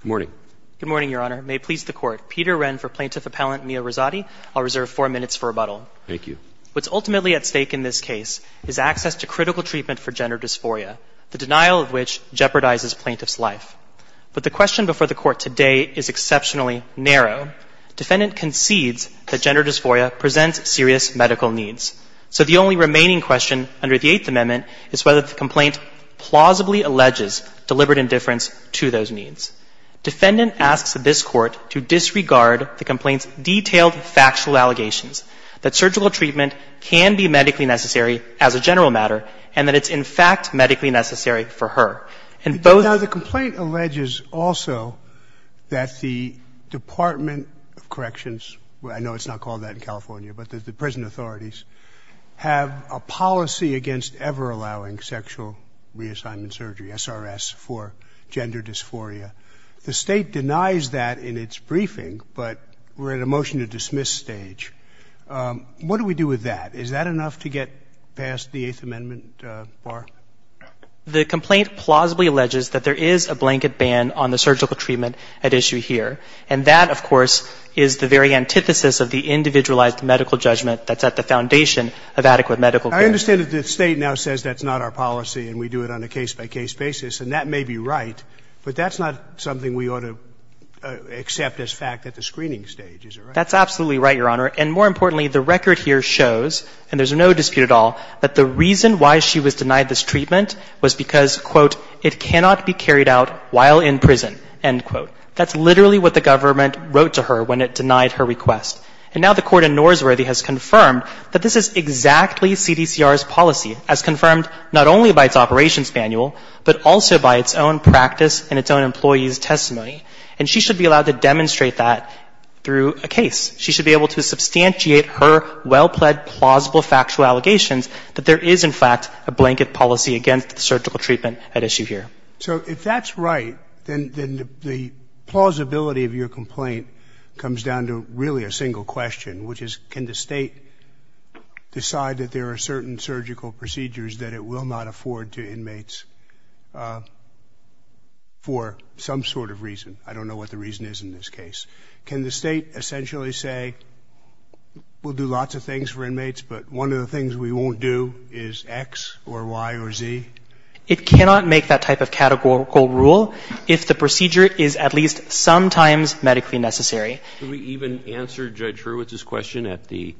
Good morning. Good morning, Your Honor. May it please the Court, Peter Wren for Plaintiff Appellant Mia Rosati. I'll reserve four minutes for rebuttal. Thank you. What's ultimately at stake in this case is access to critical treatment for gender dysphoria, the denial of which jeopardizes plaintiffs' life. But the question before the Court today is exceptionally narrow. Defendant concedes that gender dysphoria presents serious medical needs. So the only remaining question under the Eighth Amendment is whether the complaint plausibly alleges deliberate indifference to those needs. Defendant asks this Court to disregard the complaint's detailed factual allegations that surgical treatment can be medically necessary as a general matter and that it's in fact medically necessary for her. And both — Now, the complaint alleges also that the Department of Corrections — I know it's not called that in California, but the prison authorities — have a policy against ever allowing sexual reassignment surgery, SRS, for gender dysphoria. The State denies that in its briefing, but we're at a motion-to-dismiss stage. What do we do with that? Is that enough to get past the Eighth Amendment bar? The complaint plausibly alleges that there is a blanket ban on the surgical treatment at issue here. And that, of course, is the very antithesis of the individualized medical judgment that's at the foundation of adequate medical care. I understand that the State now says that's not our policy and we do it on a case-by-case basis, and that may be right, but that's not something we ought to accept as fact at the screening stage, is it right? That's absolutely right, Your Honor. And more importantly, the record here shows, and there's no dispute at all, that the reason why she was denied this treatment was because, quote, it cannot be carried out while in prison, end quote. That's literally what the government wrote to her when it denied her request. And now the Court in Norsworthy has confirmed that this is exactly CDCR's policy, as confirmed not only by its operations manual, but also by its own practice and its own employees' testimony. And she should be allowed to demonstrate that through a case. She should be able to substantiate her well-pled plausible factual allegations that there is, in fact, a blanket policy against the surgical treatment at issue here. So if that's right, then the plausibility of your complaint comes down to really a single question, which is, can the State decide that there are certain surgical procedures that it will not afford to inmates for some sort of reason? I don't know what the reason is in this case. Can the State essentially say, we'll do lots of things for inmates, but one of the things we won't do is X or Y or Z? It cannot make that type of categorical rule if the procedure is at least sometimes medically necessary. Could we even answer Judge Hurwitz's question at the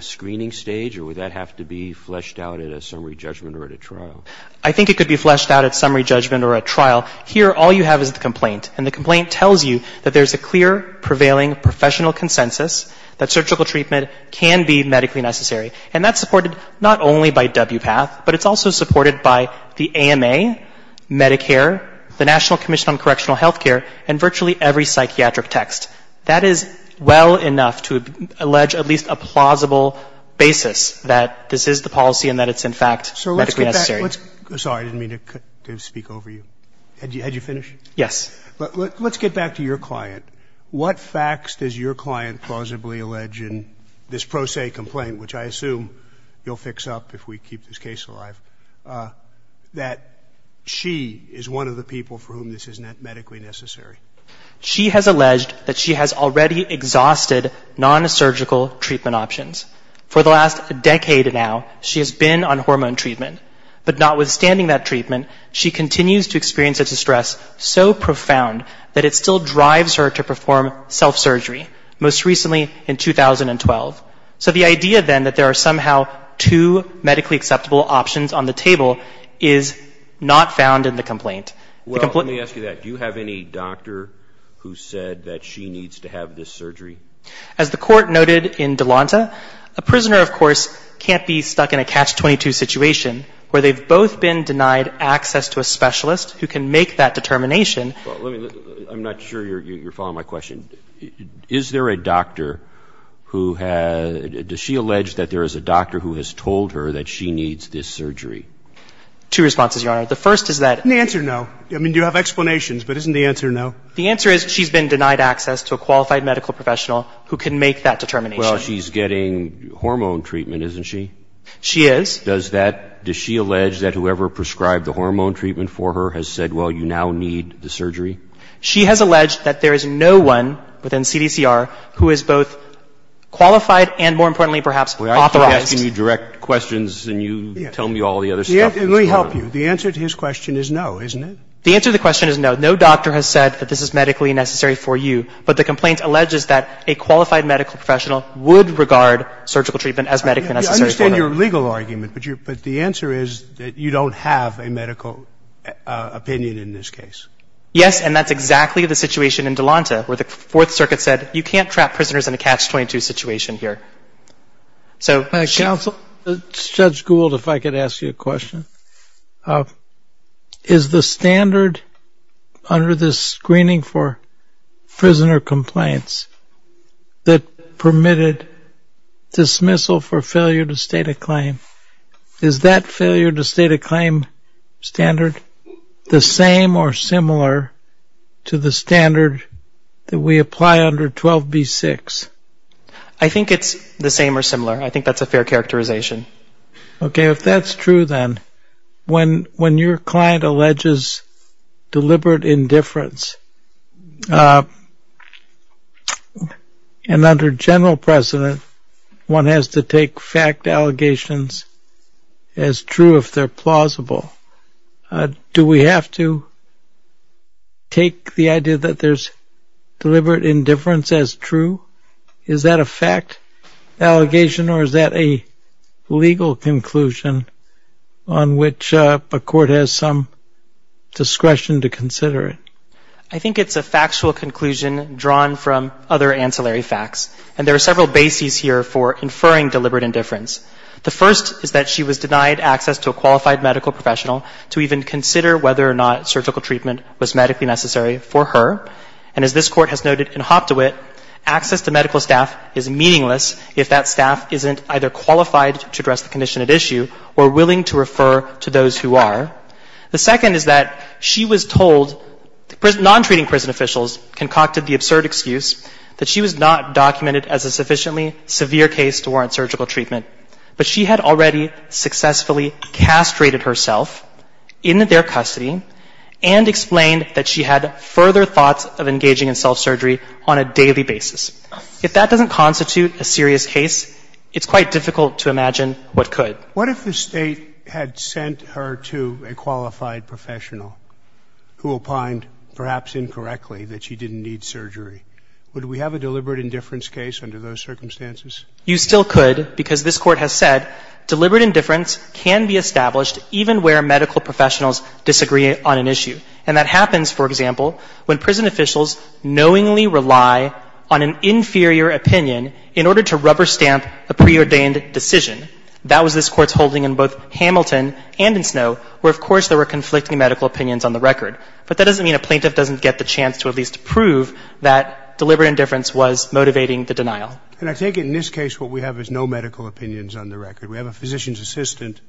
screening stage, or would that have to be fleshed out at a summary judgment or at a trial? I think it could be fleshed out at summary judgment or at trial. Here, all you have is the complaint. And the complaint tells you that there's a clear prevailing professional consensus that surgical treatment can be medically necessary. And that's supported not only by WPATH, but it's also supported by the AMA, Medicare, the National Commission on Correctional Health Care, and virtually every psychiatric text. That is well enough to allege at least a plausible basis that this is the policy and that it's, in fact, medically necessary. So let's get back. Sorry, I didn't mean to speak over you. Had you finished? Yes. Let's get back to your client. What facts does your client plausibly allege in this pro se complaint, which I assume you'll fix up if we keep this case alive, that she is one of the people for whom this is medically necessary? She has alleged that she has already exhausted non-surgical treatment options. For the last decade now, she has been on hormone treatment. But notwithstanding that treatment, she continues to experience such distress so profound that it still drives her to perform self-surgery, most recently in 2012. So the idea, then, that there are somehow two medically acceptable options on the table is not found in the complaint. Well, let me ask you that. Do you have any doctor who said that she needs to have this surgery? As the court noted in Delonta, a prisoner, of course, can't be stuck in a catch-22 situation where they've both been denied access to a specialist who can make that determination. Well, let me, I'm not sure you're following my question. Is there a doctor who has, does she allege that there is a doctor who has told her that she needs this surgery? Two responses, Your Honor. The first is that The answer, no. I mean, you have explanations, but isn't the answer no? The answer is she's been denied access to a qualified medical professional who can make that determination. Well, she's getting hormone treatment, isn't she? She is. Does that, does she allege that whoever prescribed the hormone treatment for her has said, well, you now need the surgery? She has alleged that there is no one within CDCR who is both qualified and, more importantly, perhaps authorized. Well, I keep asking you direct questions, and you tell me all the other stuff. Let me help you. The answer to his question is no, isn't it? The answer to the question is no. No doctor has said that this is medically necessary for you, but the complaint alleges that a qualified medical professional would regard surgical treatment as medically necessary for them. I understand your legal argument, but the answer is that you don't have a medical opinion in this case. Yes, and that's exactly the situation in Delonta where the Fourth Circuit said, you can't trap prisoners in a catch-22 situation here. Judge Gould, if I could ask you a question. Is the standard under this screening for prisoner complaints that permitted dismissal for failure to state a claim, is that failure to state a claim standard the same or similar to the standard that we apply under 12b-6? I think it's the same or similar. I think that's a fair characterization. Okay, if that's true then, when your client alleges deliberate indifference, and under general precedent, one has to take fact allegations as true if they're plausible, do we have to take the idea that there's deliberate indifference as true? Is that a fact allegation or is that a legal conclusion on which a court has some discretion to consider it? I think it's a factual conclusion drawn from other ancillary facts, and there are several bases here for inferring deliberate indifference. The first is that she was denied access to a qualified medical professional to even consider whether or not surgical treatment was medically necessary for her, and as this Court has noted in Hoptowit, access to medical staff is meaningless if that staff isn't either qualified to address the condition at issue or willing to refer to those who are. The second is that she was told, non-treating prison officials concocted the absurd excuse that she was not documented as a sufficiently severe case to warrant surgical treatment, but she had already successfully castrated herself in their custody and explained that she had further thoughts of engaging in self-surgery on a daily basis. If that doesn't constitute a serious case, it's quite difficult to imagine what could. What if the State had sent her to a qualified professional who opined, perhaps incorrectly, that she didn't need surgery? Would we have a deliberate indifference case under those circumstances? You still could because this Court has said deliberate indifference can be established even where medical professionals disagree on an issue. And that happens, for example, when prison officials knowingly rely on an inferior opinion in order to rubber stamp a preordained decision. That was this Court's holding in both Hamilton and in Snow, where, of course, there were conflicting medical opinions on the record. But that doesn't mean a plaintiff doesn't get the chance to at least prove that deliberate indifference was motivating the denial. And I take it in this case what we have is no medical opinions on the record. We have a physician's assistant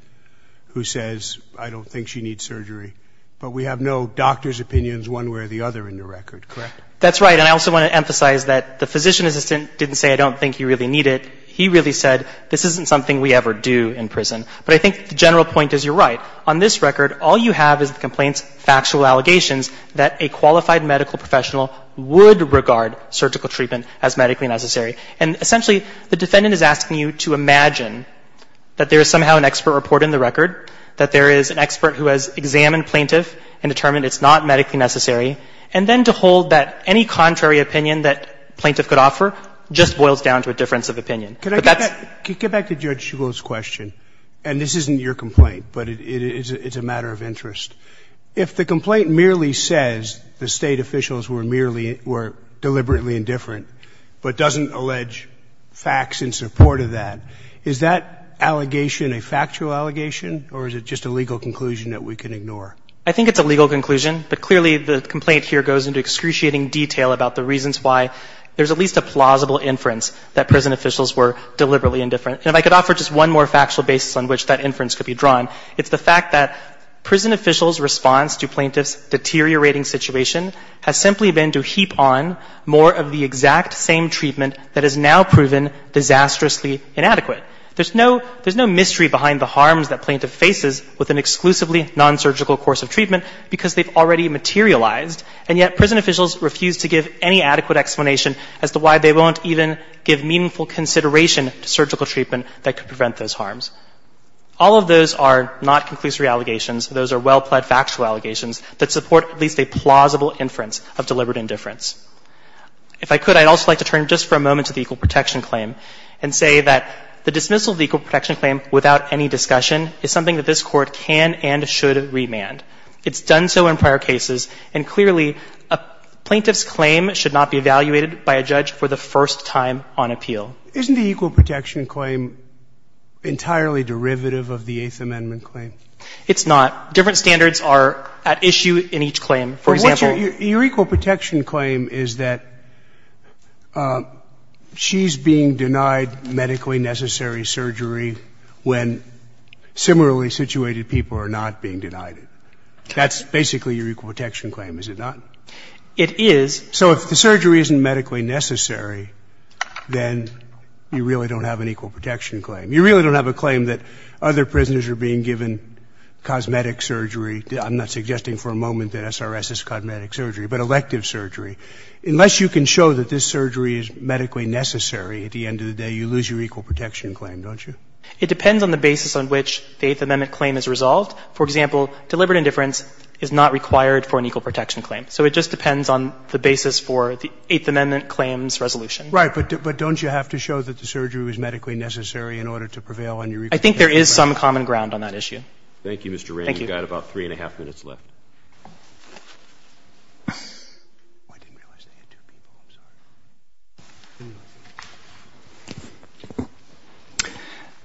who says, I don't think she needs surgery. But we have no doctor's opinions one way or the other in the record, correct? That's right. And I also want to emphasize that the physician assistant didn't say, I don't think you really need it. He really said, this isn't something we ever do in prison. But I think the general point is you're right. On this record, all you have is the complaint's factual allegations that a qualified medical professional would regard surgical treatment as medically necessary. And essentially, the defendant is asking you to imagine that there is somehow an expert report in the record, that there is an expert who has examined plaintiff and determined it's not medically necessary, and then to hold that any contrary opinion that plaintiff could offer just boils down to a difference of opinion. But that's the case. Roberts. Can I get back to Judge Shugel's question? And this isn't your complaint, but it's a matter of interest. If the complaint merely says the State officials were merely or deliberately indifferent, but doesn't allege facts in support of that, is that allegation a factual allegation, or is it just a legal conclusion that we can ignore? I think it's a legal conclusion, but clearly the complaint here goes into excruciating detail about the reasons why there's at least a plausible inference that prison officials were deliberately indifferent. And if I could offer just one more factual basis on which that inference could be drawn, it's the fact that prison officials' response to plaintiffs' deteriorating situation has simply been to heap on more of the exact same treatment that is now proven disastrously inadequate. There's no mystery behind the harms that plaintiff faces with an exclusively non-surgical course of treatment, because they've already materialized, and yet prison officials refuse to give any adequate explanation as to why they won't even give meaningful consideration to surgical treatment that could prevent those harms. All of those are not conclusory allegations. Those are well-plaid factual allegations that support at least a plausible inference of deliberate indifference. If I could, I'd also like to turn just for a moment to the equal protection claim and say that the dismissal of the equal protection claim without any discussion is something that this Court can and should remand. It's done so in prior cases, and clearly a plaintiff's claim should not be evaluated by a judge for the first time on appeal. Isn't the equal protection claim entirely derivative of the Eighth Amendment claim? It's not. Different standards are at issue in each claim. For example, Your equal protection claim is that she's being denied medically necessary surgery when similarly situated people are not being denied it. That's basically your equal protection claim, is it not? It is. So if the surgery isn't medically necessary, then you really don't have an equal protection claim. You really don't have a claim that other prisoners are being given cosmetic surgery. I'm not suggesting for a moment that SRS is cosmetic surgery, but elective surgery. Unless you can show that this surgery is medically necessary at the end of the day, you lose your equal protection claim, don't you? It depends on the basis on which the Eighth Amendment claim is resolved. For example, deliberate indifference is not required for an equal protection claim. So it just depends on the basis for the Eighth Amendment claim's resolution. Right. But don't you have to show that the surgery was medically necessary in order to prevail on your equal protection claim? I think there is some common ground on that issue. Thank you, Mr. Wray. Thank you. You've got about three and a half minutes left.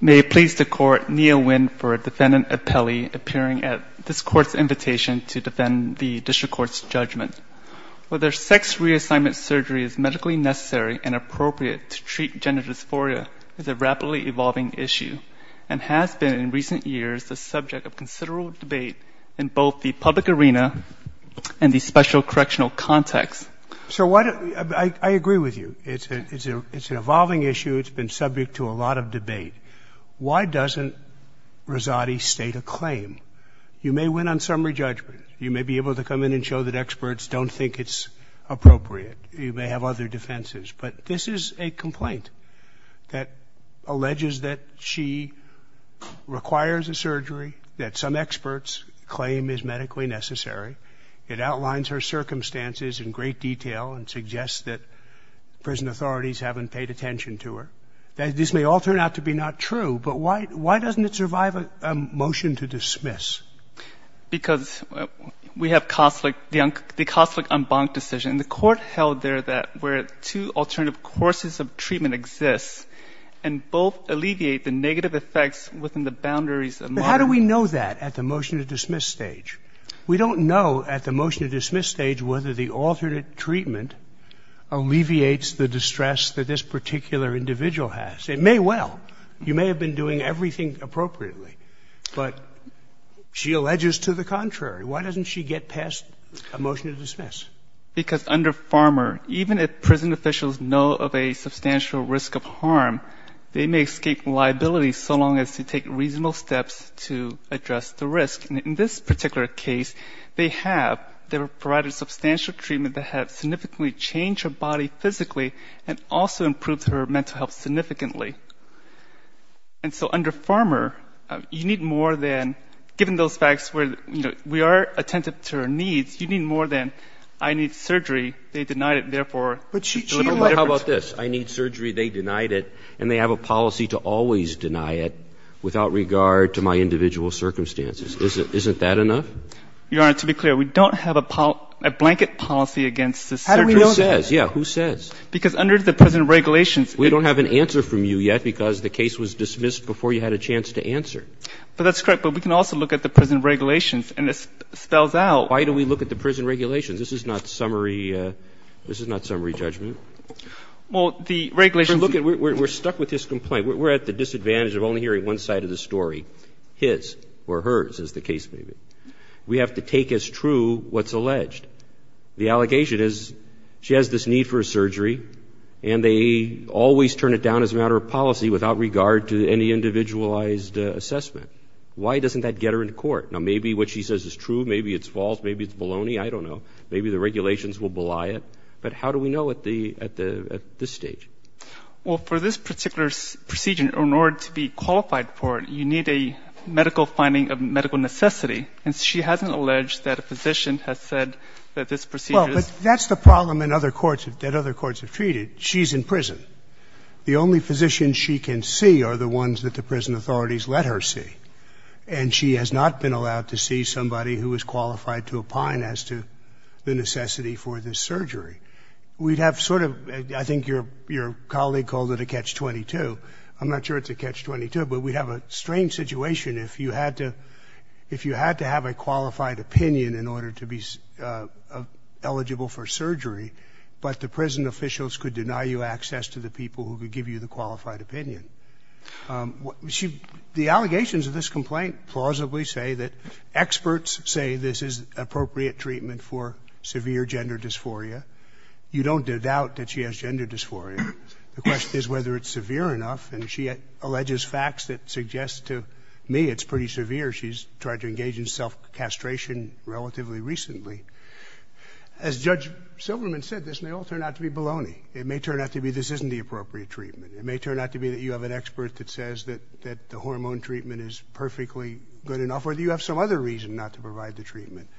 May it please the Court, Nia Nguyen for Defendant Appelli appearing at this Court's invitation to defend the district court's judgment. Whether sex reassignment surgery is medically necessary and appropriate to treat gender dysphoria is a rapidly evolving issue and has been in recent years the subject of considerable debate in both the public arena and the special correctional context. So I agree with you. It's an evolving issue. It's been subject to a lot of debate. Why doesn't Rosati state a claim? You may win on summary judgment. You may be able to come in and show that experts don't think it's appropriate. You may have other defenses. But this is a complaint that alleges that she requires a surgery, that some experts claim is medically necessary. It outlines her circumstances in great detail and suggests that prison authorities haven't paid attention to her. This may all turn out to be not true, but why doesn't it survive a motion to dismiss? Because we have the Kosslick-Umbach decision. And the Court held there that where two alternative courses of treatment exist and both alleviate the negative effects within the boundaries of moderate. But how do we know that at the motion to dismiss stage? We don't know at the motion to dismiss stage whether the alternate treatment alleviates the distress that this particular individual has. It may well. You may have been doing everything appropriately. But she alleges to the contrary. Why doesn't she get past a motion to dismiss? Because under Farmer, even if prison officials know of a substantial risk of harm, they may escape liability so long as they take reasonable steps to address the risk. In this particular case, they have provided substantial treatment that has significantly changed her body physically and also improved her mental health significantly. And so under Farmer, you need more than, given those facts where, you know, we are attentive to her needs, you need more than I need surgery, they denied it, therefore. How about this? I need surgery, they denied it, and they have a policy to always deny it without regard to my individual circumstances. Isn't that enough? Your Honor, to be clear, we don't have a blanket policy against the surgery. How do we know that? Who says? Because under the present regulations. We don't have an answer from you yet because the case was dismissed before you had a chance to answer. But that's correct, but we can also look at the present regulations and it spells out. Why do we look at the present regulations? This is not summary judgment. Well, the regulations. We're stuck with this complaint. We're at the disadvantage of only hearing one side of the story, his or hers, as the case may be. We have to take as true what's alleged. The allegation is she has this need for a surgery and they always turn it down as a matter of policy without regard to any individualized assessment. Why doesn't that get her in court? Now, maybe what she says is true, maybe it's false, maybe it's baloney, I don't know. Maybe the regulations will belie it. But how do we know at this stage? Well, for this particular procedure, in order to be qualified for it, you need a medical finding of medical necessity. And she hasn't alleged that a physician has said that this procedure is... Well, but that's the problem that other courts have treated. She's in prison. The only physicians she can see are the ones that the prison authorities let her see. And she has not been allowed to see somebody who is qualified to opine as to the necessity for this surgery. We'd have sort of, I think your colleague called it a catch-22, I'm not sure it's a catch-22, but we'd have a strange situation if you had to have a qualified opinion in order to be eligible for surgery, but the prison officials could deny you access to the people who could give you the qualified opinion. The allegations of this complaint plausibly say that experts say this is appropriate treatment for severe gender dysphoria. You don't doubt that she has gender dysphoria. The question is whether it's severe enough. And she alleges facts that suggest to me it's pretty severe. She's tried to engage in self-castration relatively recently. As Judge Silberman said, this may all turn out to be baloney. It may turn out to be this isn't the appropriate treatment. It may turn out to be that you have an expert that says that the hormone treatment is perfectly good enough or that you have some other reason not to provide the treatment.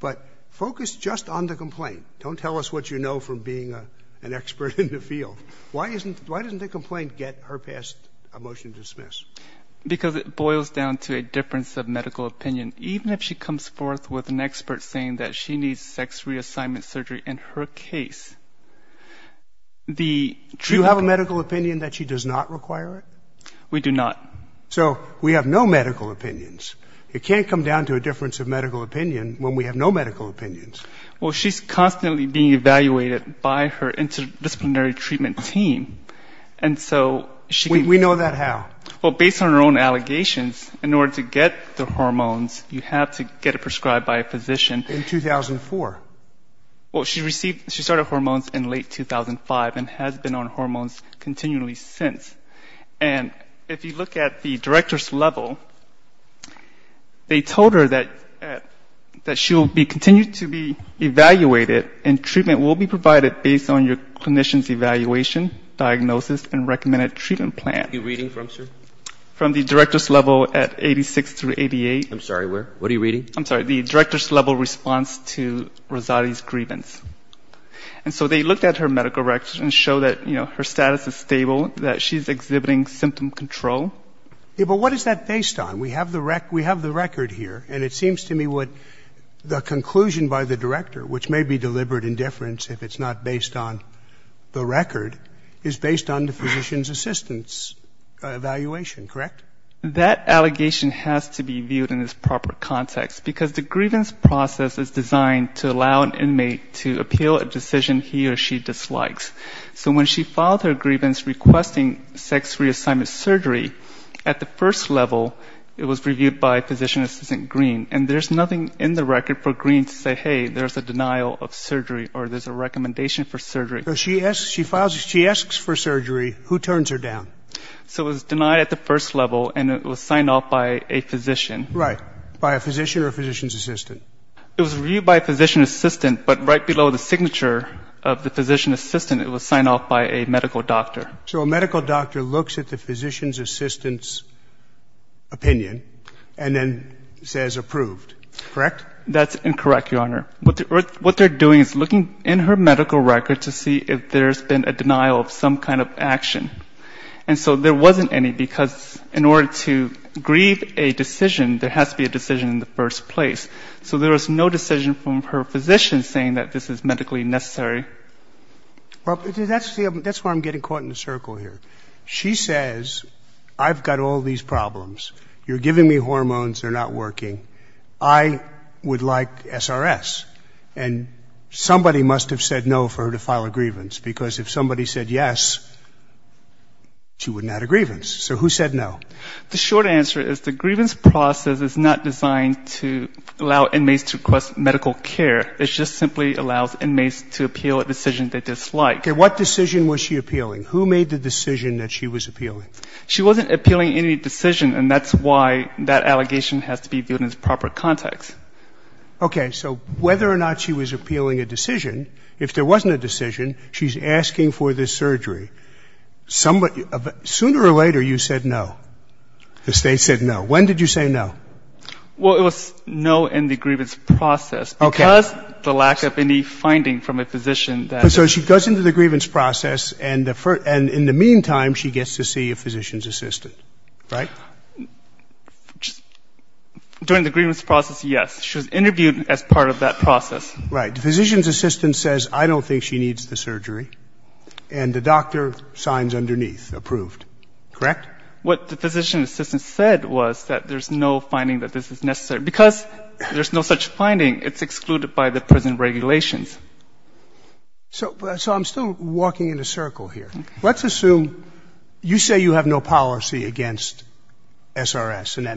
But focus just on the complaint. Don't tell us what you know from being an expert in the field. Why doesn't the complaint get her passed a motion to dismiss? Because it boils down to a difference of medical opinion. Even if she comes forth with an expert saying that she needs sex reassignment surgery in her case, the truth... Do you have a medical opinion that she does not require it? We do not. So we have no medical opinions. It can't come down to a difference of medical opinion when we have no medical opinions. Well, she's constantly being evaluated by her interdisciplinary treatment team, and so... We know that how? Well, based on her own allegations, in order to get the hormones, you have to get it prescribed by a physician. In 2004? Well, she started hormones in late 2005 and has been on hormones continually since. And if you look at the director's level, they told her that she will continue to be evaluated and treatment will be provided based on your clinician's evaluation, diagnosis and recommended treatment plan. What are you reading from, sir? From the director's level at 86 through 88. I'm sorry, where? What are you reading? I'm sorry, the director's level response to Rosati's grievance. And so they looked at her medical records and showed that, you know, her status is stable, that she's exhibiting symptom control. Yeah, but what is that based on? We have the record here, and it seems to me what the conclusion by the director, which may be deliberate indifference if it's not based on the record, is based on the physician's assistant's evaluation, correct? That allegation has to be viewed in its proper context because the grievance process is designed to allow an inmate to appeal a decision he or she dislikes. So when she filed her grievance requesting sex reassignment surgery, at the first level, it was reviewed by physician assistant Green, and there's nothing in the record for Green to say, hey, there's a denial of surgery or there's a recommendation for surgery. So she asks for surgery. Who turns her down? So it was denied at the first level, and it was signed off by a physician. Right. By a physician or a physician's assistant? It was reviewed by a physician assistant, but right below the signature of the physician assistant, it was signed off by a medical doctor. So a medical doctor looks at the physician's assistant's opinion and then says approved, correct? That's incorrect, Your Honor. What they're doing is looking in her medical record to see if there's been a denial of some kind of action. And so there wasn't any because in order to grieve a decision, there has to be a decision in the first place. So there was no decision from her physician saying that this is medically necessary. That's where I'm getting caught in a circle here. She says, I've got all these problems. You're giving me hormones, they're not working. I would like SRS. And somebody must have said no for her to file a grievance because if somebody said yes, she wouldn't add a grievance. So who said no? The short answer is the grievance process is not designed to allow inmates to request medical care. It just simply allows inmates to appeal a decision they dislike. Okay. What decision was she appealing? Who made the decision that she was appealing? She wasn't appealing any decision, and that's why that allegation has to be viewed as proper context. Okay, so whether or not she was appealing a decision, if there wasn't a decision, she's asking for this surgery. Sooner or later, you said no. The State said no. When did you say no? Well, it was no in the grievance process because of the lack of any finding from a physician. So she goes into the grievance process and in the meantime, she gets to see a physician's assistant. Right? During the grievance process, yes. She was interviewed as part of that process. Right. The physician's assistant says, I don't think she needs the surgery, and the doctor signs underneath, approved. Correct? What the physician's assistant said was that there's no finding that this is necessary because there's no such finding. It's excluded by the prison regulations. So I'm still walking in a circle here. Let's assume you say you have no policy against SRS and that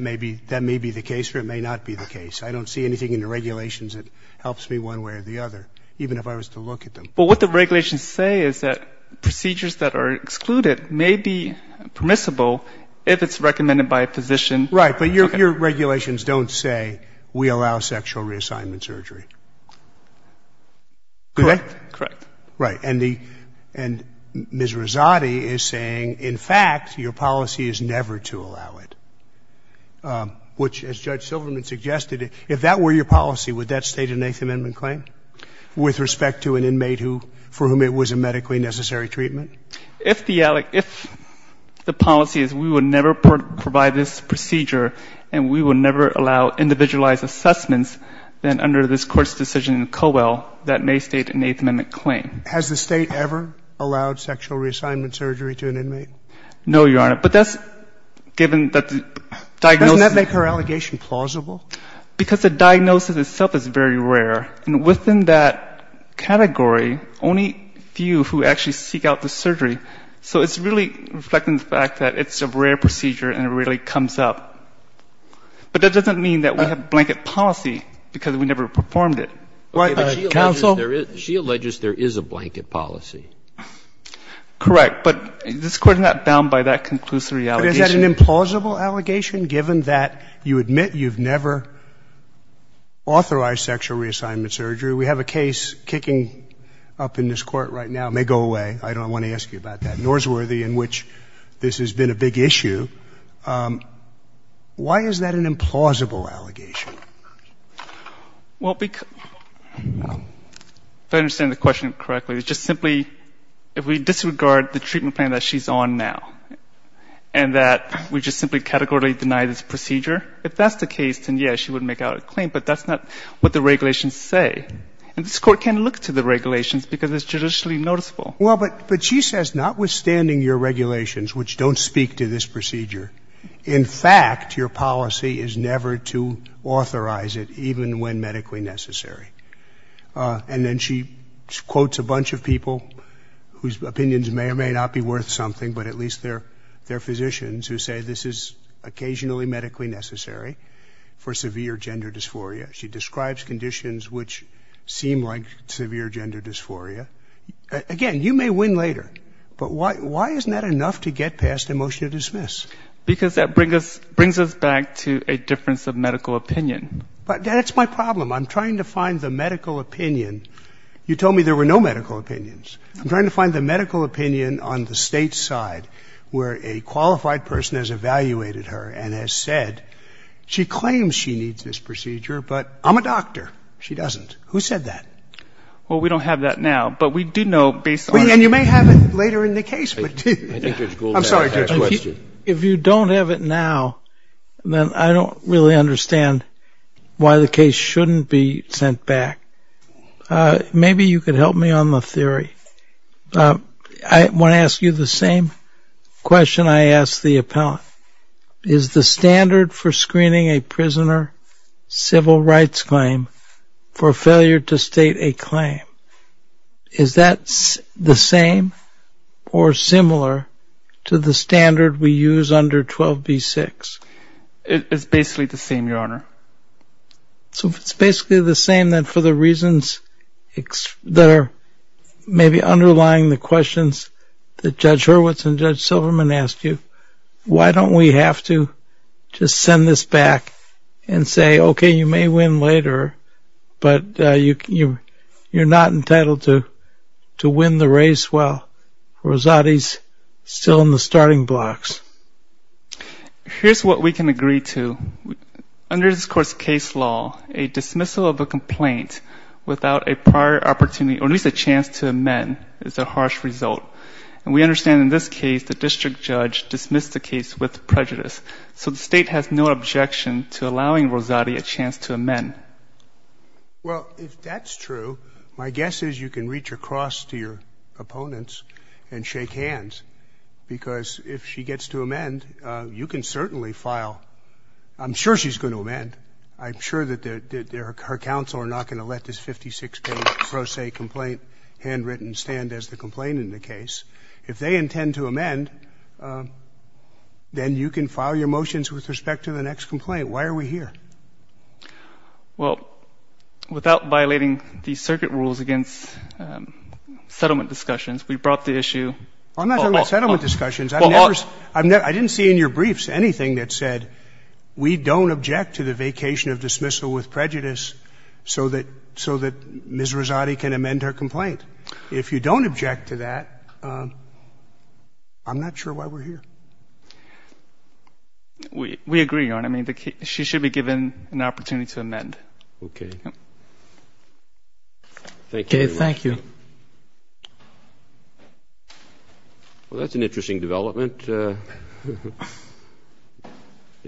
may be the case or it may not be the case. I don't see anything in the regulations that helps me one way or the other, even if I was to look at them. But what the regulations say is that procedures that are excluded may be permissible if it's recommended by a physician. Right, but your regulations don't say we allow sexual reassignment surgery. Correct? Correct. Right. And Ms. Rezati is saying, in fact, your policy is never to allow it. Which, as Judge Silverman suggested, if that were your policy, would that state an Eighth Amendment claim with respect to an inmate for whom it was a medically necessary treatment? If the policy is we would never provide this procedure then under this Court's decision in Cobell, that may state an Eighth Amendment claim. Has the State ever allowed sexual reassignment surgery to an inmate? No, Your Honor. But that's given that the diagnosis... Doesn't that make her allegation plausible? Because the diagnosis itself is very rare. And within that category, only a few who actually seek out the surgery. So it's really reflecting the fact that it's a rare procedure and it really comes up. But that doesn't mean that we have blanket policy because we never performed it. Counsel? She alleges there is a blanket policy. Correct. But this Court is not bound by that conclusory allegation. But is that an implausible allegation given that you admit you've never authorized sexual reassignment surgery? We have a case kicking up in this Court right now. It may go away. I don't want to ask you about that. Norsworthy, in which this has been a big issue. Why is that an implausible allegation? Well, because... If I understand the question correctly, it's just simply... If we disregard the treatment plan that she's on now and that we just simply categorically deny this procedure, if that's the case, then, yes, she would make out a claim. But that's not what the regulations say. And this Court can look to the regulations because it's judicially noticeable. Well, but she says, notwithstanding your regulations, which don't speak to this procedure, in fact, your policy is never to authorize it even when medically necessary. And then she quotes a bunch of people whose opinions may or may not be worth something, but at least they're physicians who say this is occasionally medically necessary for severe gender dysphoria. She describes conditions which seem like severe gender dysphoria. Again, you may win later. But why isn't that enough to get past a motion to dismiss? Because that brings us back to a difference of medical opinion. But that's my problem. I'm trying to find the medical opinion. You told me there were no medical opinions. I'm trying to find the medical opinion on the State's side where a qualified person has evaluated her and has said, she claims she needs this procedure, but I'm a doctor. She doesn't. Who said that? Well, we don't have that now. But we do know, based on... And you may have it later in the case. I'm sorry, Judge Weston. If you don't have it now, then I don't really understand why the case shouldn't be sent back. Maybe you could help me on the theory. I want to ask you the same question I asked the appellant. Is the standard for screening a prisoner civil rights claim for failure to state a claim, is that the same or similar to the standard we use under 12b-6? It's basically the same, Your Honor. So if it's basically the same, then for the reasons that are maybe underlying the questions that Judge Hurwitz and Judge Silverman asked you, why don't we have to just send this back and say, okay, you may win later, but you're not entitled to Rosati's still in the starting blocks. Here's what we can agree to. Under this Court's case law, a dismissal of a complaint without a prior opportunity or at least a chance to amend is a harsh result. And we understand in this case the district judge dismissed the case with prejudice. So the State has no objection to allowing Rosati a chance to amend. Well, if that's true, my guess is you can reach across to your opponents and shake hands because if she gets to amend, you can certainly file. I'm sure she's going to amend. I'm sure that her counsel are not going to let this 56-page Rosati complaint handwritten stand as the complaint in the case. If they intend to amend, then you can file your motions with respect to the next complaint. Why are we here? Well, without violating the circuit rules against settlement discussions, we brought the issue... I'm not talking about settlement discussions. I didn't see in your briefs anything that said we don't object to the vacation of dismissal with prejudice so that Ms. Rosati can amend her complaint. If you don't object to that, I'm not sure why we're here. We agree, Your Honor. She should be given an opportunity to amend. Okay. Thank you. Okay, thank you. Well, that's an interesting development.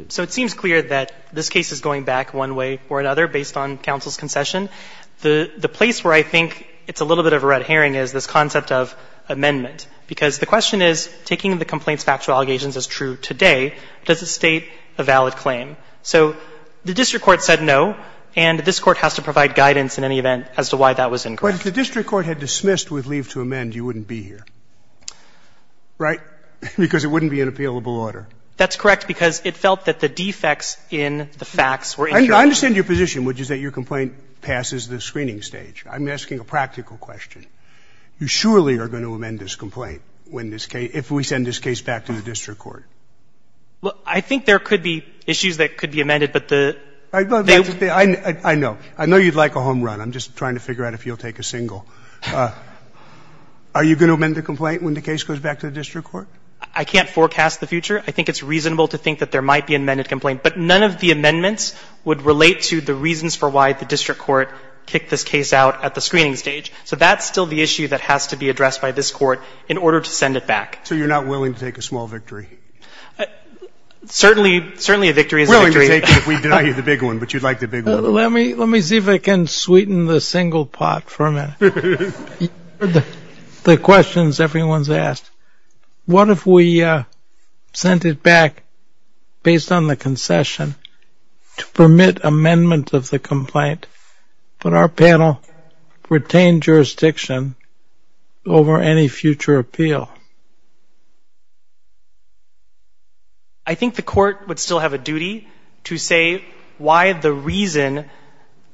So it seems clear that this case is going back one way or another based on counsel's concession. The place where I think it's a little bit of a red herring is this concept of amendment. Because the question is, taking the complaint's factual allegations as true today, does it state a valid claim? So, the district court said no and this court has to provide guidance in any event as to why that was incorrect. But if the district court had dismissed with leave to amend, you wouldn't be here. Right? Because it wouldn't be in appealable order. That's correct because it felt that the defects in the facts were... I understand your position, which is that your complaint passes the screening stage. I'm asking a practical question. You surely are going to amend this complaint if we send this case back to the district court. I think there could be issues that could be amended, but the... I know. I know you'd like a home run. I'm just trying to figure out if you'll take a single. Are you going to amend the complaint when the case goes back to the district court? I can't forecast the future. I think it's reasonable to think that there might be an amended complaint. But none of the amendments would relate to the reasons for why the district court kicked this case out at the screening stage. So that's still the issue that has to be addressed by this court in order to send it back. So you're not willing to take a small victory? Certainly a victory is a victory. We're willing to take it if we deny you the big one, but you'd like the big one. Let me see if I can sweeten the single pot for a minute. The questions everyone's asked. What if we sent it back based on the concession to permit amendment of the complaint, but our panel retained jurisdiction over any future appeal? I think the court would still have a duty to say why the reason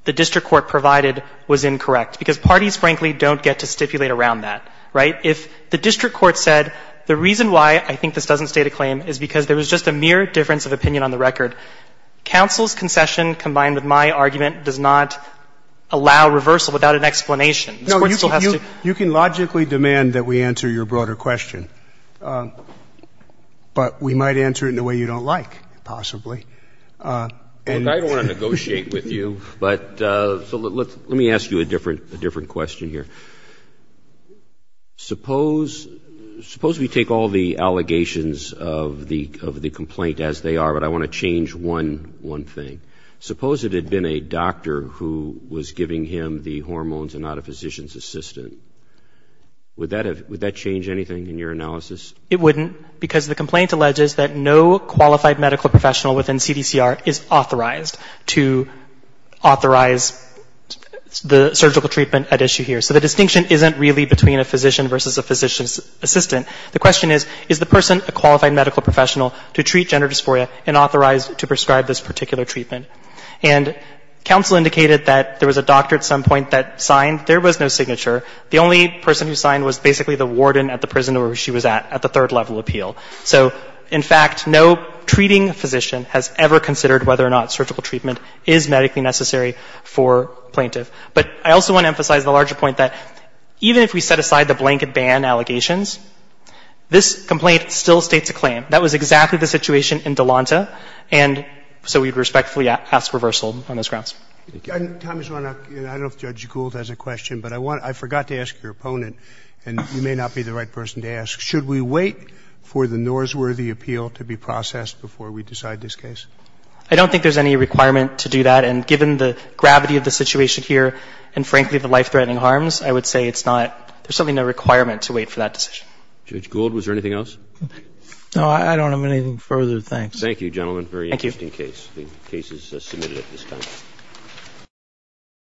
the district court provided was incorrect. Because parties, frankly, don't get to stipulate around that. Right? If the district court said the reason why I think this doesn't state a claim is because there was just a mere difference of opinion on the record, counsel's concession combined with my argument does not allow reversal without an explanation. You can logically demand that we answer your broader question, but we might answer it in a way you don't like, possibly. I don't want to negotiate with you, but let me ask you a different question here. Suppose we take all the allegations of the complaint as they are, but I want to change one thing. Suppose it had been a doctor who was giving him the hormones and not a physician's assistant. Would that change anything in your analysis? It wouldn't, because the complaint alleges that no qualified medical professional within CDCR is authorized to authorize the surgical treatment at issue here. So the distinction isn't really between a physician versus a physician's assistant. The question is, is the person a qualified medical professional to treat gender dysphoria and authorized to prescribe this particular treatment? And counsel indicated that there was a doctor at some point that signed. There was no signature. The only person who signed was basically the warden at the prison where she was at at the third level appeal. So in fact, no treating physician has ever considered whether or not surgical treatment is medically necessary for plaintiff. But I also want to emphasize the larger point that even if we set aside the blanket ban allegations, this complaint still states a claim. That was exactly the situation in Delonta, and so we'd respectfully ask reversal on those grounds. I don't know if Judge Gould has a question, but I forgot to ask your opponent, and you may not be the right person to ask, should we wait for the NORS-worthy appeal to be processed before we decide this case? I don't think there's any requirement to do that, and given the gravity of the situation here, and frankly the life-threatening harms, I would say it's not there's certainly no requirement to wait for that decision. Judge Gould, was there anything else? No, I don't have anything further. Thank you, gentlemen. Thank you.